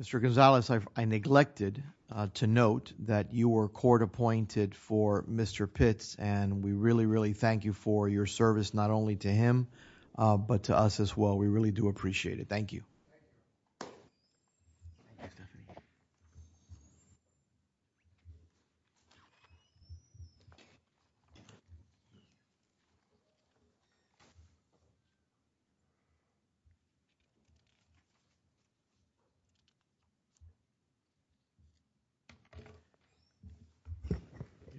Mr. Gonzalez, I neglected to note that you were court-appointed for Mr. Pitts and we really do appreciate it. Thank you.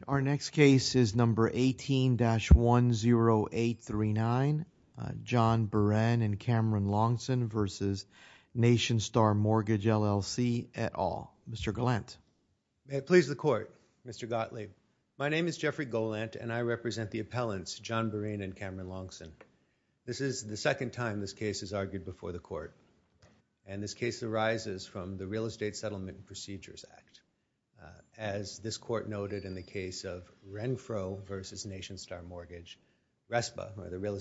Our next case is number 18-10839, John Berene and Cameron Longson v. Nationstar Mortgage LLC et al. Mr. Golant. May it please the Court, Mr. Gottlieb. My name is Jeffrey Golant and I represent the appellants John Berene and Cameron Longson. This is the second time this case is argued before the Court and this case arises from the Real Estate Settlement Procedures Act. As this Court noted in the case of Renfro v. Nationstar Mortgage, RESPA, or the Real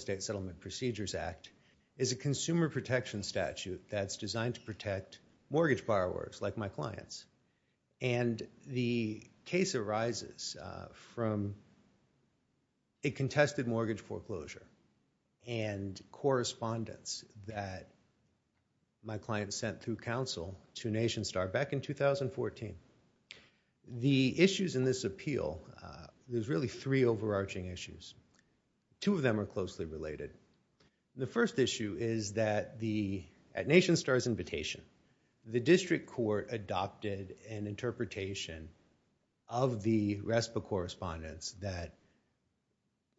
that's designed to protect mortgage borrowers like my clients. The case arises from a contested mortgage foreclosure and correspondence that my client sent through counsel to Nationstar back in 2014. The issues in this appeal, there's really three overarching issues. Two of them are closely related. The first issue is that at Nationstar's invitation, the district court adopted an interpretation of the RESPA correspondence that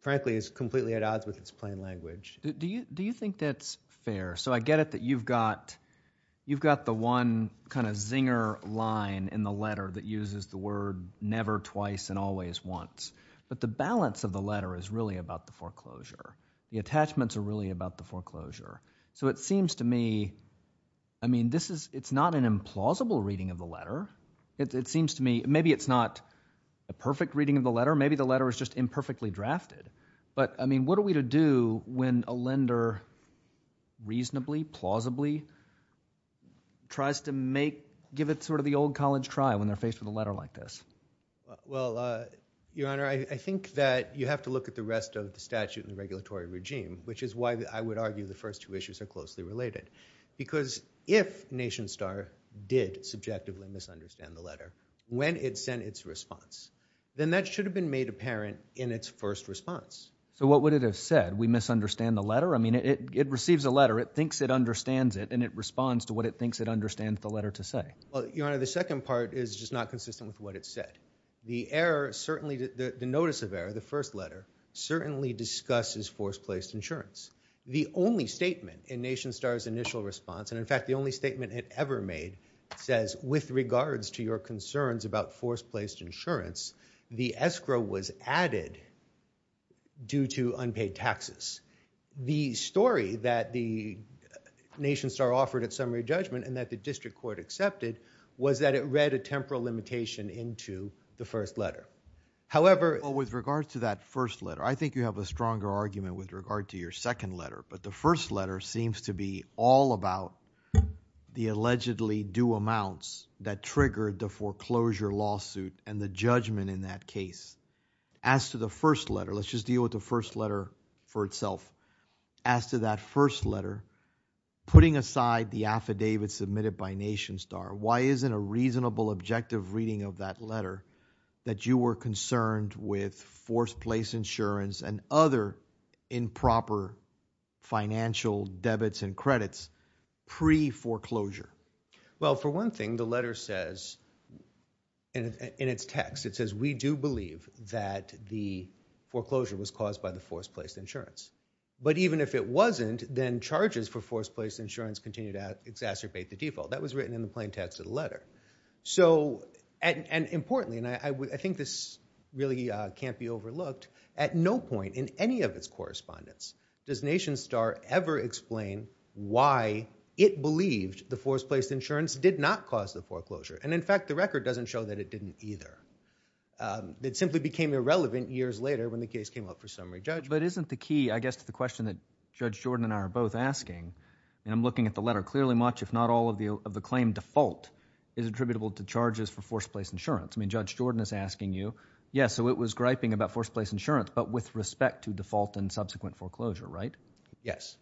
frankly is completely at odds with its plain language. Do you think that's fair? I get it that you've got the one kind of zinger line in the letter that uses the word never twice and always once, but the balance of the letter is really about the foreclosure. The attachments are really about the foreclosure. So it seems to me, I mean, this is, it's not an implausible reading of the letter. It seems to me, maybe it's not a perfect reading of the letter. Maybe the letter is just imperfectly drafted. But I mean, what are we to do when a lender reasonably, plausibly tries to make, give it sort of the old college try when they're faced with a letter like this? Well, Your Honor, I think that you have to look at the rest of the statute and the regulatory regime, which is why I would argue the first two issues are closely related. Because if Nationstar did subjectively misunderstand the letter when it sent its response, then that should have been made apparent in its first response. So what would it have said? We misunderstand the letter? I mean, it receives a letter, it thinks it understands it, and it responds to what it thinks it understands the letter to say. Well, Your Honor, the second part is just not consistent with what it said. The error, certainly the notice of error, the first letter, certainly discusses force-placed insurance. The only statement in Nationstar's initial response, and in fact, the only statement it ever made, says, with regards to your concerns about force-placed insurance, the escrow was added due to unpaid taxes. The story that the Nationstar offered at summary judgment and that the district court accepted was that it read a temporal limitation into the first letter. However— With regards to that first letter, I think you have a stronger argument with regard to your second letter. But the first letter seems to be all about the allegedly due amounts that triggered the foreclosure lawsuit and the judgment in that case. As to the first letter, let's just deal with the first letter for itself. As to that first letter, putting aside the affidavit submitted by Nationstar, why isn't a reasonable, objective reading of that letter that you were concerned with force-placed insurance and other improper financial debits and credits pre-foreclosure? Well, for one thing, the letter says, in its text, it says, we do believe that the foreclosure was caused by the force-placed insurance. But even if it wasn't, then charges for force-placed insurance continue to exacerbate the default. That was written in the plain text of the letter. So—and importantly, and I think this really can't be overlooked, at no point in any of its correspondence does Nationstar ever explain why it believed the force-placed insurance did not cause the foreclosure. And in fact, the record doesn't show that it didn't either. It simply became irrelevant years later when the case came up for summary judgment. But isn't the key, I guess, to the question that Judge Jordan and I are both asking, and I'm looking at the letter clearly, much, if not all, of the claim default is attributable to charges for force-placed insurance. I mean, Judge Jordan is asking you, yes, so it was griping about force-placed insurance, but with respect to default and subsequent foreclosure, right? Yes.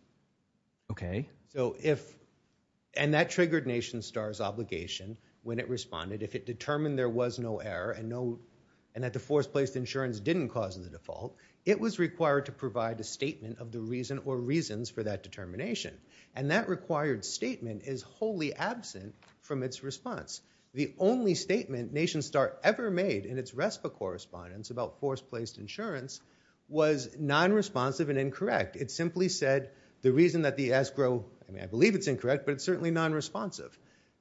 Okay. So if—and that triggered Nationstar's obligation when it responded. If it determined there was no error and no—and that the force-placed insurance didn't cause the default, it was required to provide a statement of the reason or reasons for that determination. And that required statement is wholly absent from its response. The only statement Nationstar ever made in its RESPA correspondence about force-placed insurance was non-responsive and incorrect. It simply said the reason that the escrow—I mean, I believe it's incorrect, but it's certainly non-responsive.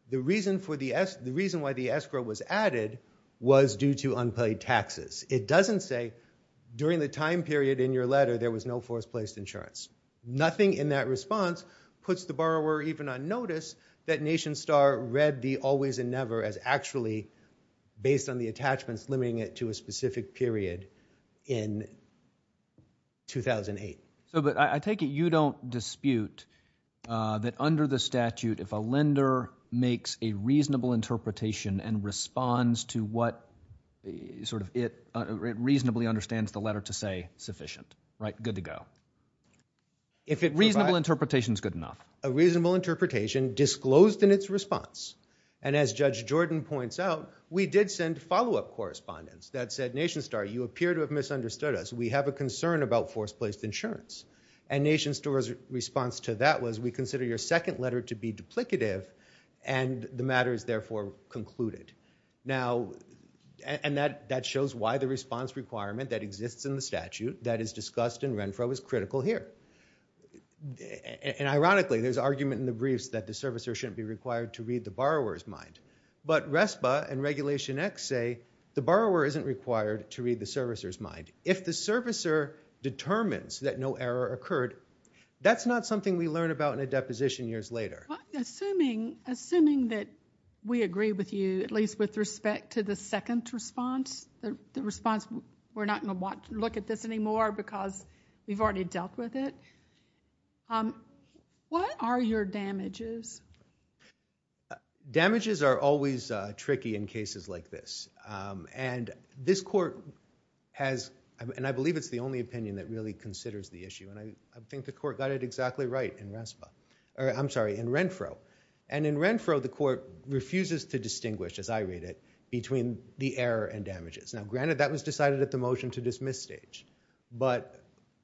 The reason for the—the reason why the escrow was added was due to unpaid taxes. It doesn't say during the time period in your letter there was no force-placed insurance. Nothing in that response puts the borrower even on notice that Nationstar read the always and never as actually based on the attachments limiting it to a specific period in 2008. So, but I take it you don't dispute that under the statute, if a lender makes a reasonable interpretation and responds to what sort of it reasonably understands the letter to say sufficient, right? Good to go. If it— Reasonable interpretation is good enough. A reasonable interpretation disclosed in its response. And as Judge Jordan points out, we did send follow-up correspondence that said, Nationstar, you appear to have misunderstood us. We have a concern about force-placed insurance. And Nationstar's response to that was we consider your second letter to be duplicative, and the matter is therefore concluded. Now, and that—that shows why the response requirement that exists in the statute that is discussed in Renfro is critical here. And ironically, there's argument in the briefs that the servicer shouldn't be required to read the borrower's mind. But RESPA and Regulation X say the borrower isn't required to read the servicer's mind. If the servicer determines that no error occurred, that's not something we learn about in a deposition years later. Assuming—assuming that we agree with you, at least with respect to the second response, the response we're not going to want to look at this anymore because we've already dealt with it, what are your damages? Damages are always tricky in cases like this. And this Court has—and I believe it's the only opinion that really considers the issue, and I think the Court got it exactly right in RESPA—or, I'm sorry, in Renfro. And in Renfro, the Court refuses to distinguish, as I read it, between the error and damages. Now, granted, that was decided at the motion to dismiss stage. But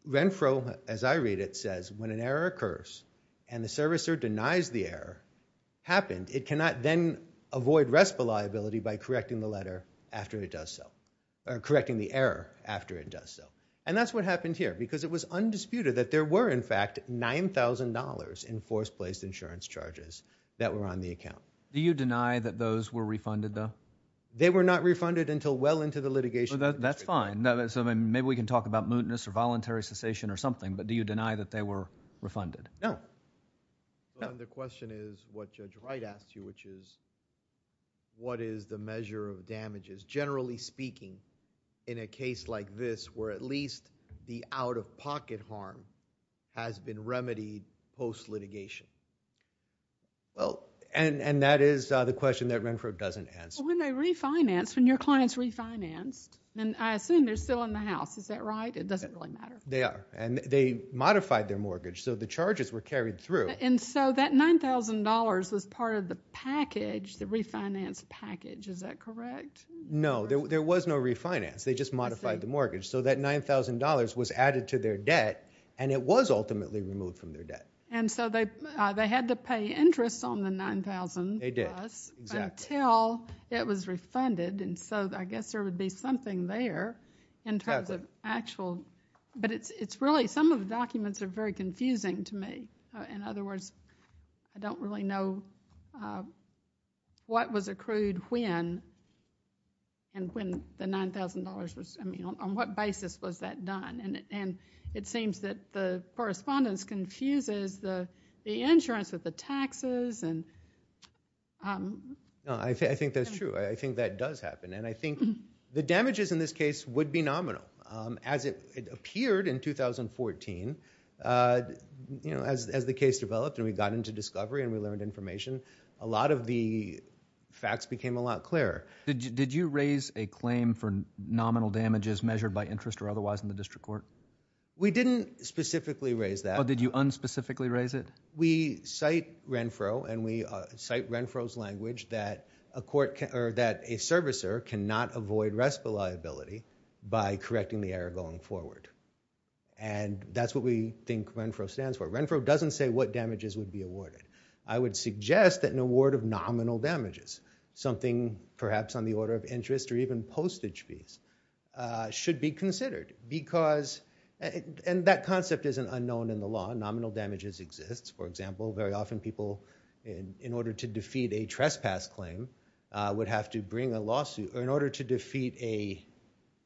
Renfro, as I read it, says when an error occurs and the servicer denies the error happened, it cannot then avoid RESPA liability by correcting the letter after it does so—or correcting the error after it does so. And that's what happened here because it was undisputed that there were, in fact, $9,000 in force-placed insurance charges that were on the account. Do you deny that those were refunded, though? They were not refunded until well into the litigation. That's fine. Maybe we can talk about mootness or voluntary cessation or something, but do you deny that they were refunded? No. No. The question is what Judge Wright asked you, which is what is the measure of damages, generally speaking, in a case like this where at least the out-of-pocket harm has been remedied post-litigation? And that is the question that Renfro doesn't answer. When they refinance, when your client's refinanced, and I assume they're still in the house. Is that right? It doesn't really matter. They are. And they modified their mortgage, so the charges were carried through. And so that $9,000 was part of the package, the refinance package. Is that correct? No. There was no refinance. They just modified the mortgage. So that $9,000 was added to their debt, and it was ultimately removed from their debt. And so they had to pay interest on the 9,000 plus until it was refunded, and so I guess there would be something there in terms of actual, but it's really, some of the documents are very confusing to me. In other words, I don't really know what was accrued when and when the $9,000 was, I mean, on what basis was that done? And it seems that the correspondence confuses the insurance with the taxes and... I think that's true. I think that does happen, and I think the damages in this case would be nominal. As it appeared in 2014, you know, as the case developed and we got into discovery and we learned information, a lot of the facts became a lot clearer. Did you raise a claim for nominal damages measured by interest or otherwise in the district court? We didn't specifically raise that. Did you unspecifically raise it? We cite Renfro, and we cite Renfro's language that a court, or that a servicer cannot avoid arrest liability by correcting the error going forward. And that's what we think Renfro stands for. Renfro doesn't say what damages would be awarded. I would suggest that an award of nominal damages, something perhaps on the order of interest or even postage fees, should be considered because, and that concept isn't unknown in the law, nominal damages exist. For example, very often people, in order to defeat a trespass claim, would have to bring a lawsuit, or in order to defeat an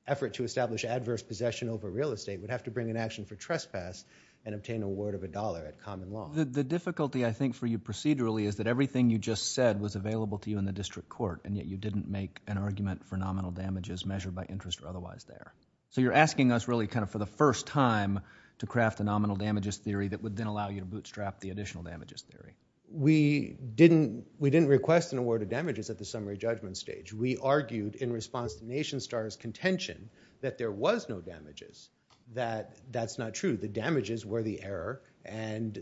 effort to establish adverse possession over real estate, would have to bring an action for trespass and obtain an award of a dollar at common law. The difficulty, I think, for you procedurally is that everything you just said was available to you in the district court, and yet you didn't make an argument for nominal damages measured by interest or otherwise there. So you're asking us really kind of for the first time to craft a nominal damages theory that would then allow you to bootstrap the additional damages theory. We didn't request an award of damages at the summary judgment stage. We argued in response to Nation Star's contention that there was no damages, that that's not true. The damages were the error, and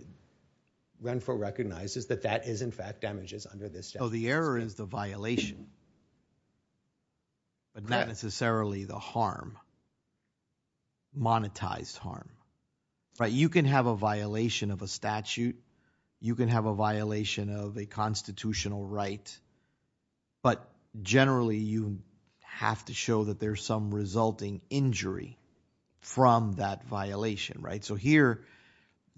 Renfro recognizes that that is in fact damages under this statute. The error is the violation, but not necessarily the harm, monetized harm. You can have a violation of a statute. You can have a violation of a constitutional right, but generally you have to show that there's some resulting injury from that violation, right? So here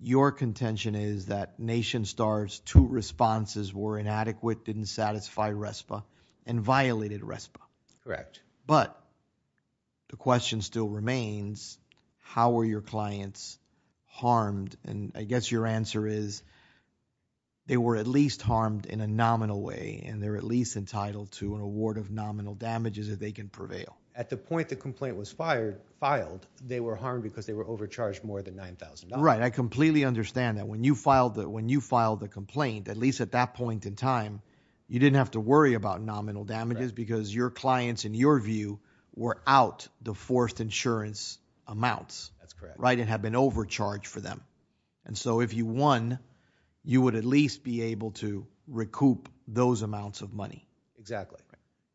your contention is that Nation Star's two responses were inadequate, didn't satisfy RESPA, and violated RESPA. Correct. But the question still remains, how were your clients harmed? And I guess your answer is they were at least harmed in a nominal way, and they're at least entitled to an award of nominal damages if they can prevail. At the point the complaint was filed, they were harmed because they were overcharged more than $9,000. Right. I completely understand that. When you filed the complaint, at least at that point in time, you didn't have to worry about nominal damages because your clients and your view were out the forced insurance amounts, right, and had been overcharged for them. And so if you won, you would at least be able to recoup those amounts of money. Exactly.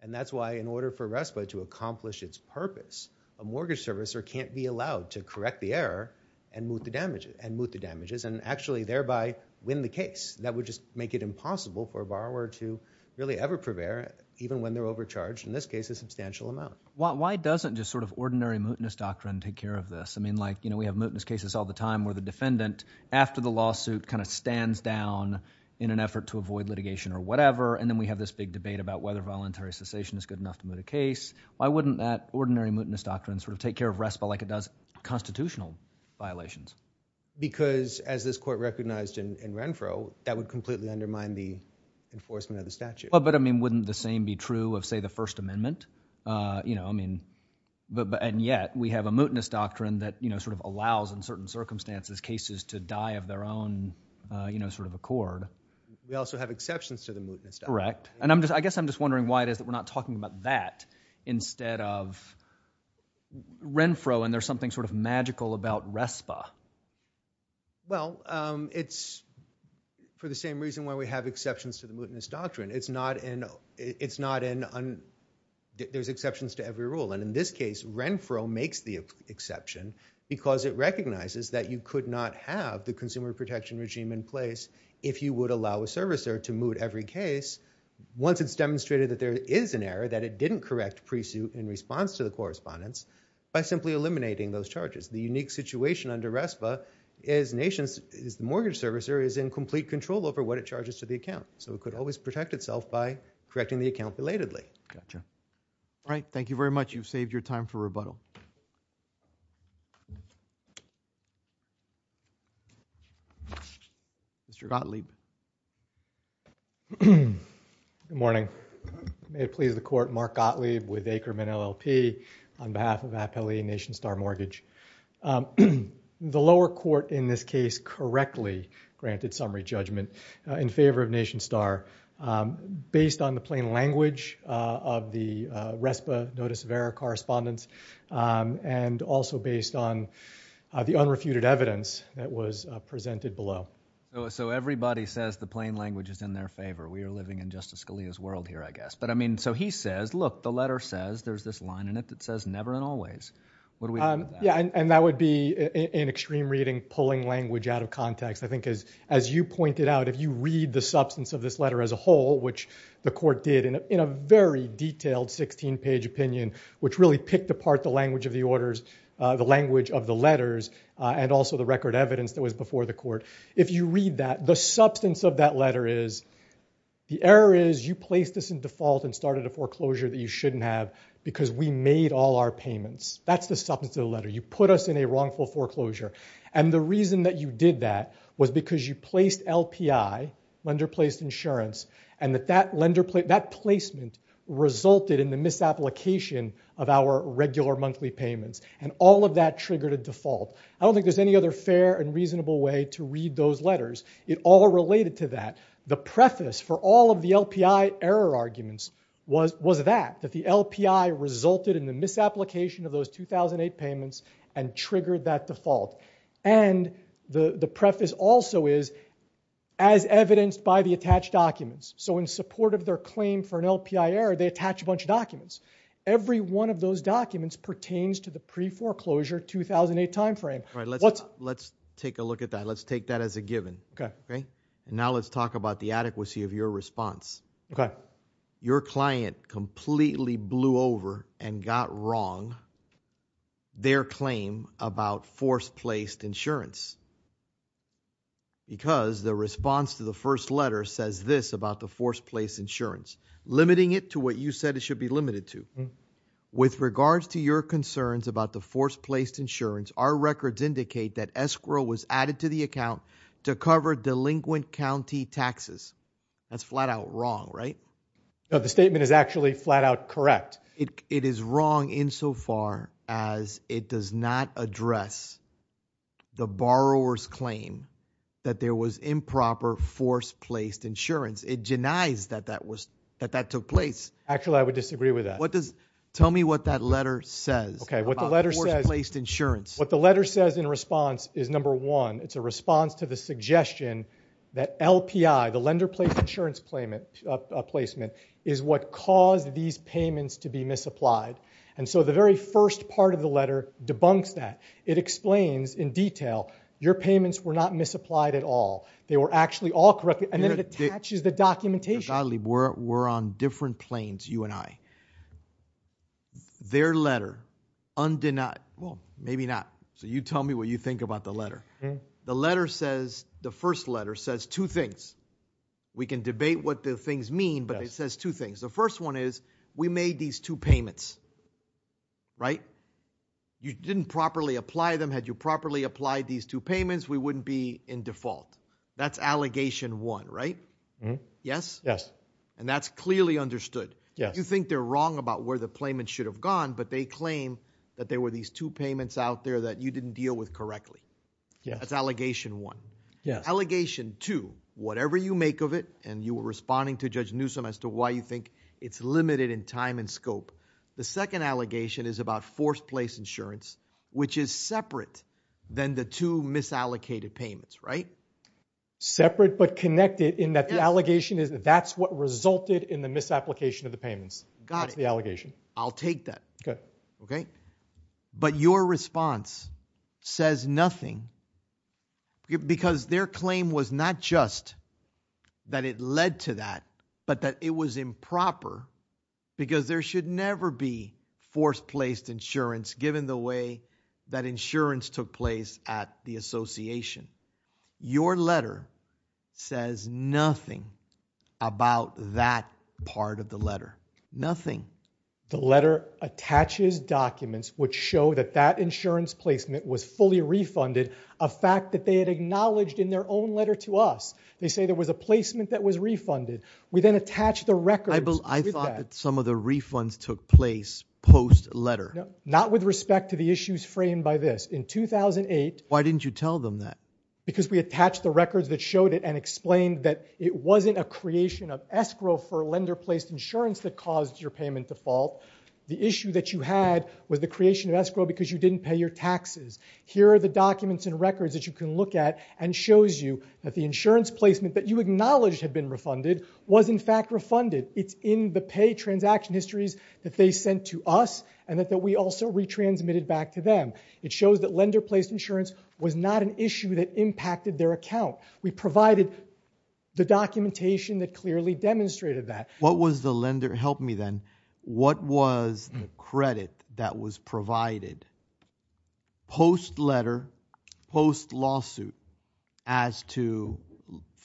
And that's why in order for RESPA to accomplish its purpose, a mortgage servicer can't be allowed to correct the error and moot the damages, and actually thereby win the case. That would just make it impossible for a borrower to really ever prevail even when they're overcharged, in this case, a substantial amount. Why doesn't just sort of ordinary mootness doctrine take care of this? I mean, like, you know, we have mootness cases all the time where the defendant, after the lawsuit, kind of stands down in an effort to avoid litigation or whatever, and then we have this big debate about whether voluntary cessation is good enough to moot a case. Why wouldn't that ordinary mootness doctrine sort of take care of RESPA like it does constitutional violations? Because as this court recognized in Renfro, that would completely undermine the enforcement of the statute. But, I mean, wouldn't the same be true of, say, the First Amendment? You know, I mean, and yet we have a mootness doctrine that, you know, sort of allows in certain circumstances cases to die of their own, you know, sort of accord. We also have exceptions to the mootness doctrine. Correct. And I guess I'm just wondering why it is that we're not talking about that instead of Renfro, and there's something sort of magical about RESPA. Well, it's for the same reason why we have exceptions to the mootness doctrine. It's not an, it's not an, there's exceptions to every rule, and in this case, Renfro makes the exception because it recognizes that you could not have the consumer protection regime in place if you would allow a servicer to moot every case once it's demonstrated that there is an error, that it didn't correct pre-suit in response to the correspondence by simply eliminating those charges. The unique situation under RESPA is the mortgage servicer is in complete control over what it charges to the account. So it could always protect itself by correcting the account belatedly. Gotcha. All right. Thank you very much. You've saved your time for rebuttal. Mr. Gottlieb. Good morning. May it please the court, Mark Gottlieb with Aikerman LLP on behalf of Appellee Nation Star Mortgage. The lower court in this case correctly granted summary judgment in favor of Nation Star based on the plain language of the RESPA notice of error correspondence and also based on the unrefuted evidence that was presented below. So everybody says the plain language is in their favor. We are living in Justice Scalia's world here, I guess. But I mean, so he says, look, the letter says there's this line in it that says never and always. What do we do with that? Yeah. And that would be in extreme reading, pulling language out of context. I think as you pointed out, if you read the substance of this letter as a whole, which the court did in a very detailed 16-page opinion, which really picked apart the language of the orders, the language of the letters, and also the record evidence that was before the The error is you placed this in default and started a foreclosure that you shouldn't have because we made all our payments. That's the substance of the letter. You put us in a wrongful foreclosure. And the reason that you did that was because you placed LPI, lender-placed insurance, and that that placement resulted in the misapplication of our regular monthly payments. And all of that triggered a default. I don't think there's any other fair and reasonable way to read those letters. It all related to that. The preface for all of the LPI error arguments was that, that the LPI resulted in the misapplication of those 2008 payments and triggered that default. And the preface also is, as evidenced by the attached documents. So in support of their claim for an LPI error, they attach a bunch of documents. Every one of those documents pertains to the pre-foreclosure 2008 timeframe. Let's take a look at that. Let's take that as a given. Okay. And now let's talk about the adequacy of your response. Your client completely blew over and got wrong their claim about force-placed insurance. Because the response to the first letter says this about the force-placed insurance, limiting it to what you said it should be limited to. With regards to your concerns about the force-placed insurance, our records indicate that escrow was added to the account to cover delinquent county taxes. That's flat out wrong, right? The statement is actually flat out correct. It is wrong insofar as it does not address the borrower's claim that there was improper force-placed insurance. It denies that that was, that that took place. Actually I would disagree with that. What does, tell me what that letter says about force-placed insurance. What the letter says in response is number one, it's a response to the suggestion that LPI, the lender-placed insurance placement, is what caused these payments to be misapplied. And so the very first part of the letter debunks that. It explains in detail, your payments were not misapplied at all. They were actually all correct. And then it attaches the documentation. Because I believe we're on different planes, you and I. Their letter undenied, well, maybe not. So you tell me what you think about the letter. The letter says, the first letter says two things. We can debate what the things mean, but it says two things. The first one is, we made these two payments, right? You didn't properly apply them. Had you properly applied these two payments, we wouldn't be in default. That's allegation one, right? Yes? Yes. And that's clearly understood. You think they're wrong about where the payment should have gone, but they claim that there were these two payments out there that you didn't deal with correctly. That's allegation one. Allegation two, whatever you make of it, and you were responding to Judge Newsom as to why you think it's limited in time and scope, the second allegation is about forced-place insurance, which is separate than the two misallocated payments, right? Separate but connected in that the allegation is that that's what resulted in the misapplication of the payments. Got it. That's the allegation. I'll take that. Okay. Okay? But your response says nothing because their claim was not just that it led to that, but that it was improper because there should never be forced-placed insurance given the way that insurance took place at the association. Your letter says nothing about that part of the letter. Nothing. The letter attaches documents which show that that insurance placement was fully refunded, a fact that they had acknowledged in their own letter to us. They say there was a placement that was refunded. We then attach the records with that. I thought that some of the refunds took place post-letter. Not with respect to the issues framed by this. In 2008... Why didn't you tell them that? Because we attached the records that showed it and explained that it wasn't a creation of escrow for lender-placed insurance that caused your payment default. The issue that you had was the creation of escrow because you didn't pay your taxes. Here are the documents and records that you can look at and shows you that the insurance placement that you acknowledged had been refunded was in fact refunded. It's in the pay transaction histories that they sent to us and that we also retransmitted back to them. It shows that lender-placed insurance was not an issue that impacted their account. We provided the documentation that clearly demonstrated that. What was the lender... Help me then. What was the credit that was provided post-letter, post-lawsuit, as to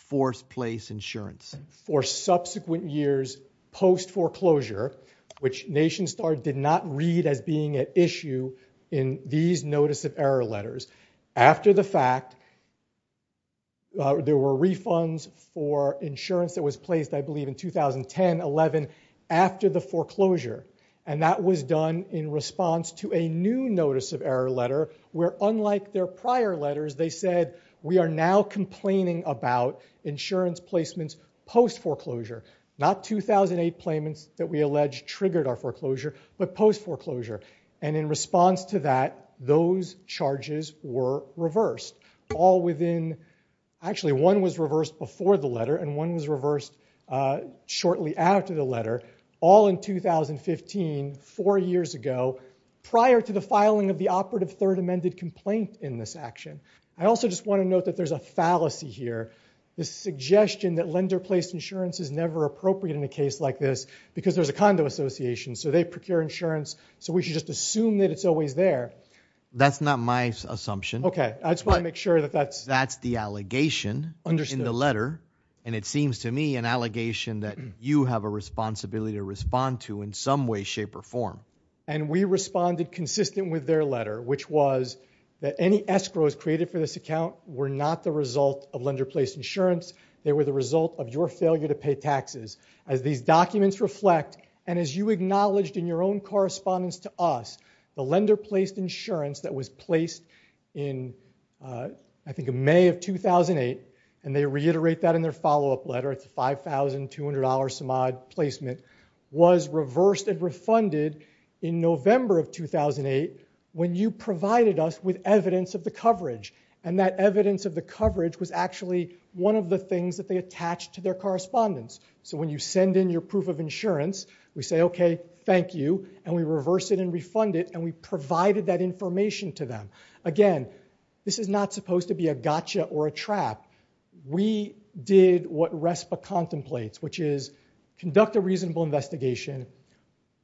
forced-place insurance? For subsequent years, post-foreclosure, which NationStar did not read as being an issue in these notice of error letters, after the fact, there were refunds for insurance that was placed, I believe, in 2010-11 after the foreclosure. And that was done in response to a new notice of error letter where unlike their prior letters, they said, we are now complaining about insurance placements post-foreclosure. Not 2008 claimants that we alleged triggered our foreclosure, but post-foreclosure. And in response to that, those charges were reversed all within... Actually, one was reversed before the letter and one was reversed shortly after the letter, all in 2015, four years ago, prior to the filing of the operative third amended complaint in this action. I also just want to note that there's a fallacy here. The suggestion that lender-placed insurance is never appropriate in a case like this because there's a condo association, so they procure insurance, so we should just assume that it's always there. That's not my assumption. Okay. I just want to make sure that that's... That's the allegation in the letter. And it seems to me an allegation that you have a responsibility to respond to in some way, shape, or form. And we responded consistent with their letter, which was that any escrows created for this account were not the result of lender-placed insurance. They were the result of your failure to pay taxes. As these documents reflect, and as you acknowledged in your own correspondence to us, the lender-placed insurance that was placed in, I think, May of 2008, and they reiterate that in their follow-up letter, it's a $5,200 Samad placement, was reversed and refunded in November of 2008 when you provided us with evidence of the coverage. And that evidence of the coverage was actually one of the things that they attached to their correspondence. So when you send in your proof of insurance, we say, okay, thank you. And we reverse it and refund it. And we provided that information to them. Again, this is not supposed to be a gotcha or a trap. We did what RESPA contemplates, which is conduct a reasonable investigation,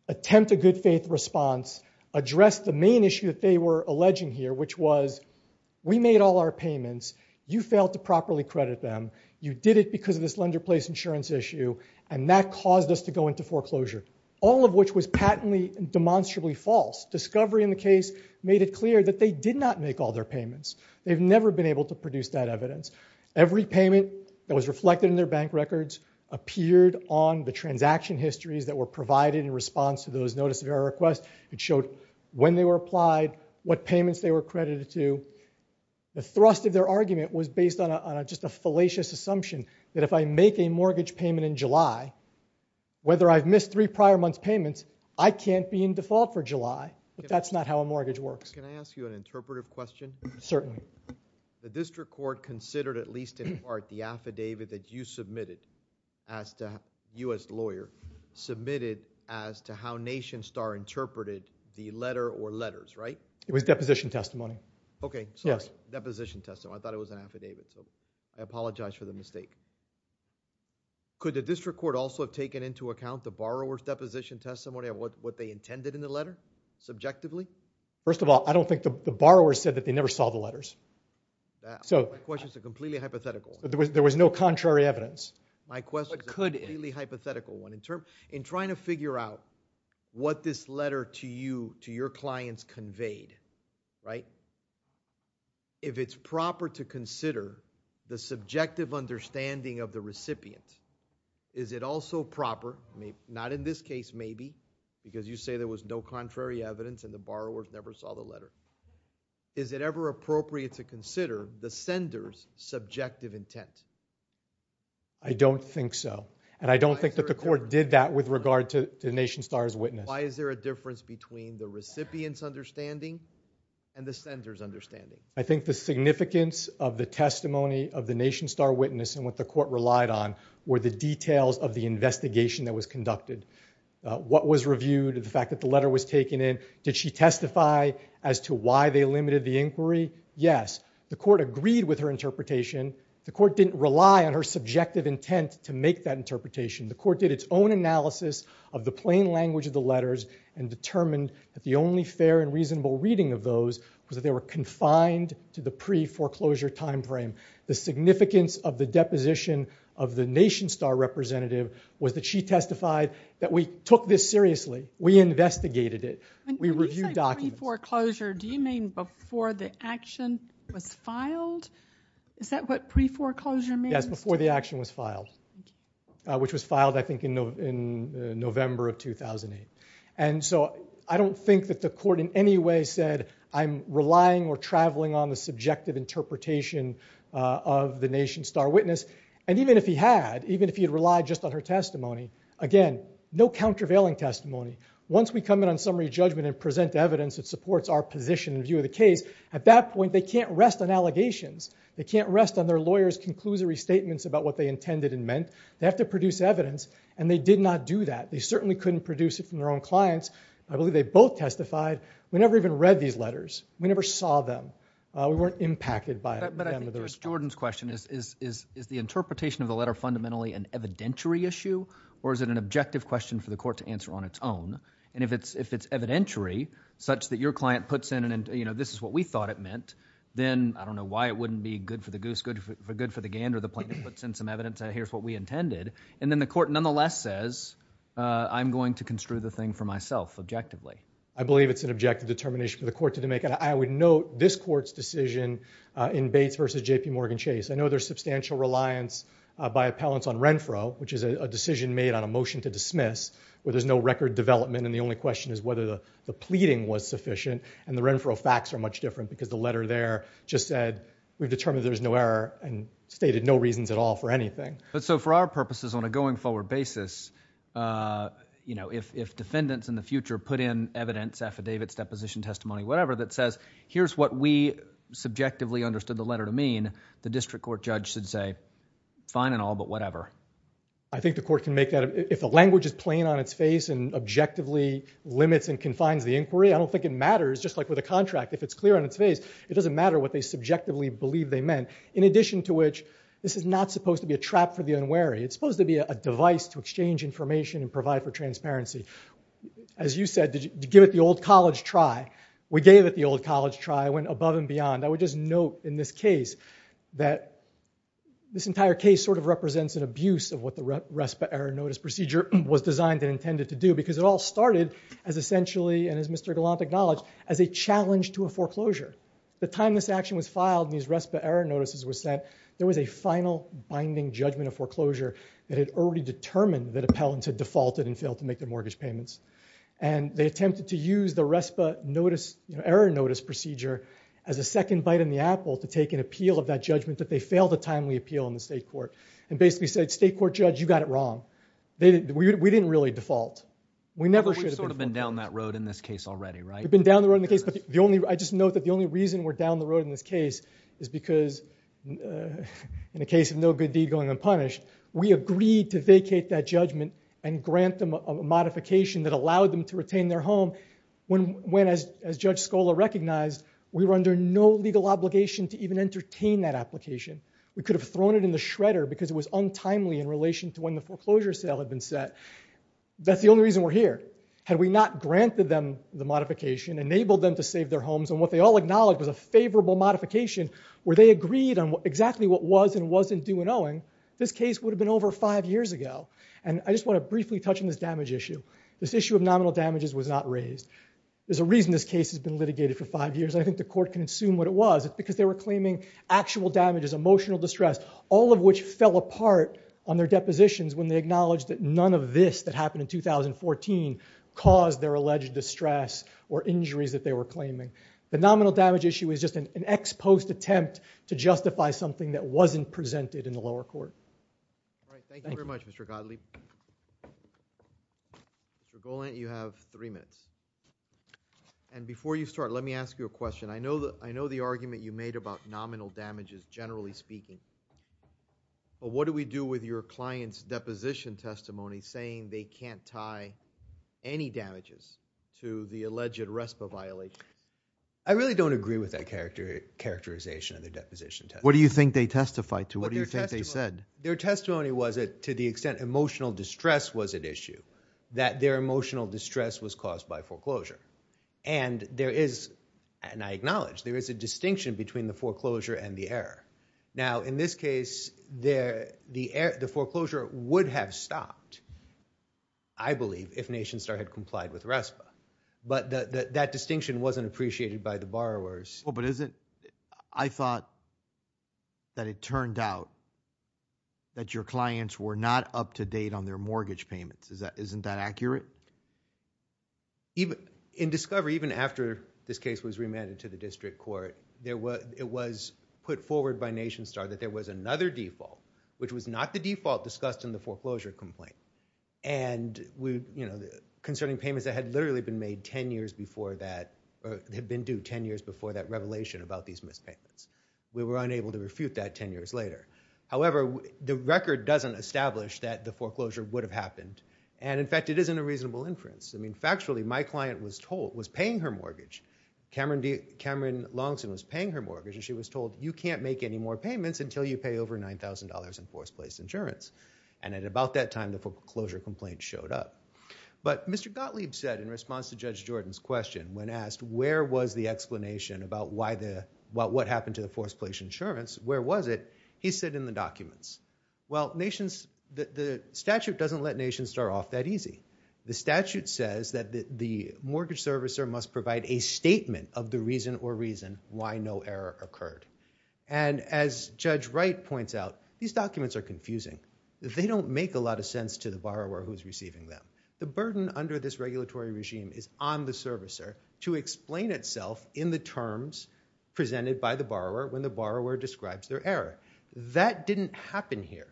attempt a good faith response, address the main issue that they were alleging here, which was we made all our payments. You failed to properly credit them. You did it because of this lender-placed insurance issue. And that caused us to go into foreclosure, all of which was patently demonstrably false. Discovery in the case made it clear that they did not make all their payments. They've never been able to produce that evidence. Every payment that was reflected in their bank records appeared on the transaction histories that were provided in response to those notice of error requests. It showed when they were applied, what payments they were credited to. The thrust of their argument was based on just a fallacious assumption that if I make a mortgage payment in July, whether I've missed three prior month's payments, I can't be in default for July. But that's not how a mortgage works. Can I ask you an interpretive question? Certainly. The district court considered, at least in part, the affidavit that you submitted as to, you as lawyer, submitted as to how NationStar interpreted the letter or letters, right? It was deposition testimony. Okay. Sorry. Deposition testimony. I thought it was an affidavit. So I apologize for the mistake. Could the district court also have taken into account the borrower's deposition testimony of what they intended in the letter subjectively? First of all, I don't think the borrower said that they never saw the letters. My question is a completely hypothetical one. There was no contrary evidence. My question is a completely hypothetical one. In trying to figure out what this letter to you, to your clients conveyed, right, if it's proper to consider the subjective understanding of the recipient, is it also proper, not in this case maybe, because you say there was no contrary evidence and the borrower never saw the letter, is it ever appropriate to consider the sender's subjective intent? I don't think so. And I don't think that the court did that with regard to NationStar's witness. Why is there a difference between the recipient's understanding and the sender's understanding? I think the significance of the testimony of the NationStar witness and what the court relied on were the details of the investigation that was conducted. What was reviewed, the fact that the letter was taken in, did she testify as to why they limited the inquiry? Yes. The court agreed with her interpretation. The court didn't rely on her subjective intent to make that interpretation. The court did its own analysis of the plain language of the letters and determined that the only fair and reasonable reading of those was that they were confined to the pre-foreclosure time frame. The significance of the deposition of the NationStar representative was that she testified that we took this seriously. We investigated it. We reviewed documents. When you say pre-foreclosure, do you mean before the action was filed? Is that what pre-foreclosure means? Before the action was filed, which was filed, I think, in November of 2008. I don't think that the court in any way said, I'm relying or traveling on the subjective interpretation of the NationStar witness. And even if he had, even if he had relied just on her testimony, again, no countervailing testimony. Once we come in on summary judgment and present evidence that supports our position and view of the case, at that point, they can't rest on allegations. They can't rest on their lawyers' conclusory statements about what they intended and meant. They have to produce evidence. And they did not do that. They certainly couldn't produce it from their own clients. I believe they both testified. We never even read these letters. We never saw them. We weren't impacted by them. But I think, to Jordan's question, is the interpretation of the letter fundamentally an evidentiary issue? Or is it an objective question for the court to answer on its own? And if it's evidentiary, such that your client puts in, this is what we thought it meant, then I don't know why it wouldn't be good for the goose, good for the gander, the plaintiff puts in some evidence, here's what we intended. And then the court nonetheless says, I'm going to construe the thing for myself, objectively. I believe it's an objective determination for the court to make. And I would note this court's decision in Bates versus JPMorgan Chase. I know there's substantial reliance by appellants on Renfro, which is a decision made on a motion to dismiss, where there's no record development. And the only question is whether the pleading was sufficient. And the Renfro facts are much different, because the letter there just said, we've determined there's no error, and stated no reasons at all for anything. But so for our purposes, on a going forward basis, if defendants in the future put in evidence, affidavits, deposition, testimony, whatever, that says, here's what we subjectively understood the letter to mean, the district court judge should say, fine and all, but whatever. I think the court can make that, if the language is plain on its face and objectively limits and confines the inquiry. I don't think it matters, just like with a contract. If it's clear on its face, it doesn't matter what they subjectively believe they meant. In addition to which, this is not supposed to be a trap for the unwary. It's supposed to be a device to exchange information and provide for transparency. As you said, give it the old college try. We gave it the old college try. I went above and beyond. I would just note in this case that this entire case sort of represents an abuse of what the essentially, and as Mr. Galante acknowledged, as a challenge to a foreclosure. The time this action was filed and these RESPA error notices were sent, there was a final binding judgment of foreclosure that had already determined that appellants had defaulted and failed to make their mortgage payments. They attempted to use the RESPA error notice procedure as a second bite in the apple to take an appeal of that judgment that they failed a timely appeal in the state court, and basically said, state court judge, you got it wrong. We didn't really default. We never should have defaulted. We've sort of been down that road in this case already, right? We've been down the road in the case, but I just note that the only reason we're down the road in this case is because, in the case of no good deed going unpunished, we agreed to vacate that judgment and grant them a modification that allowed them to retain their home when, as Judge Scola recognized, we were under no legal obligation to even entertain that application. We could have thrown it in the shredder because it was untimely in relation to when the foreclosure sale had been set. That's the only reason we're here. Had we not granted them the modification, enabled them to save their homes, and what they all acknowledged was a favorable modification where they agreed on exactly what was and wasn't due and owing, this case would have been over five years ago. And I just want to briefly touch on this damage issue. This issue of nominal damages was not raised. There's a reason this case has been litigated for five years. I think the court can assume what it was. It's because they were claiming actual damages, emotional distress, all of which fell apart on their depositions when they acknowledged that none of this that happened in 2014 caused their alleged distress or injuries that they were claiming. The nominal damage issue is just an ex-post attempt to justify something that wasn't presented in the lower court. All right. Thank you very much, Mr. Godley. Mr. Golant, you have three minutes. And before you start, let me ask you a question. I know the argument you made about nominal damages, generally speaking, but what do we do with your client's deposition testimony saying they can't tie any damages to the alleged RESPA violation? I really don't agree with that characterization of the deposition test. What do you think they testified to? What do you think they said? Their testimony was that to the extent emotional distress was at issue, that their emotional distress was caused by foreclosure. And there is, and I acknowledge, there is a distinction between the foreclosure and the error. Now, in this case, the foreclosure would have stopped, I believe, if NationStar had complied with RESPA, but that distinction wasn't appreciated by the borrowers. Well, but isn't... I thought that it turned out that your clients were not up-to-date on their mortgage payments. Isn't that accurate? In discovery, even after this case was remanded to the district court, it was put forward by NationStar that there was another default, which was not the default discussed in the foreclosure complaint, and concerning payments that had literally been made ten years before that, or had been due ten years before that revelation about these missed payments. We were unable to refute that ten years later. However, the record doesn't establish that the foreclosure would have happened, and in fact, it isn't a reasonable inference. I mean, factually, my client was paying her mortgage. Cameron Longston was paying her mortgage, and she was told, you can't make any more payments until you pay over $9,000 in forced-place insurance, and at about that time, the foreclosure complaint showed up. But Mr. Gottlieb said, in response to Judge Jordan's question, when asked where was the explanation about what happened to the forced-place insurance, where was it, he said in the documents, well, the statute doesn't let NationStar off that easy. The statute says that the mortgage servicer must provide a statement of the reason or reason why no error occurred, and as Judge Wright points out, these documents are confusing. They don't make a lot of sense to the borrower who is receiving them. The burden under this regulatory regime is on the servicer to explain itself in the terms presented by the borrower when the borrower describes their error. That didn't happen here,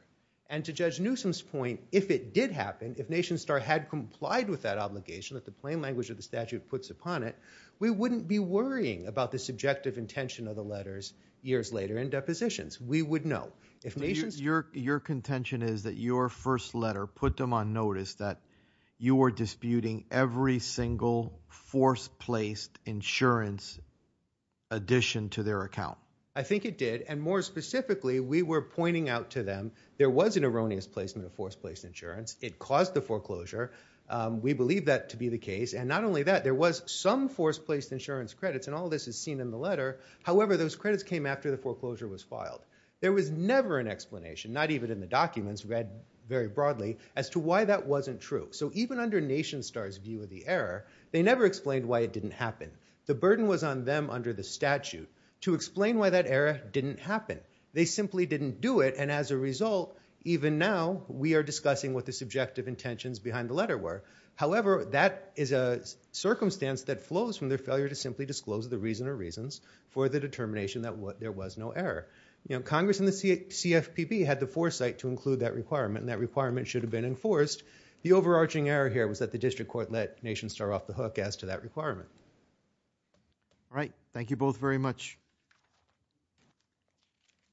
and to Judge Newsom's point, if it did happen, if NationStar had complied with that obligation that the plain language of the statute puts upon it, we wouldn't be worrying about the subjective intention of the letters years later in depositions. We would know. Your contention is that your first letter put them on notice that you were disputing every single forced-placed insurance addition to their account. I think it did, and more specifically, we were pointing out to them there was an error in the foreclosure. We believe that to be the case, and not only that, there was some forced-placed insurance credits, and all this is seen in the letter. However, those credits came after the foreclosure was filed. There was never an explanation, not even in the documents read very broadly, as to why that wasn't true. So even under NationStar's view of the error, they never explained why it didn't happen. The burden was on them under the statute to explain why that error didn't happen. They simply didn't do it, and as a result, even now, we are discussing what the subjective intentions behind the letter were. However, that is a circumstance that flows from their failure to simply disclose the reason or reasons for the determination that there was no error. Congress and the CFPB had the foresight to include that requirement, and that requirement should have been enforced. The overarching error here was that the district court let NationStar off the hook as to that requirement. All right. Thank you both very much.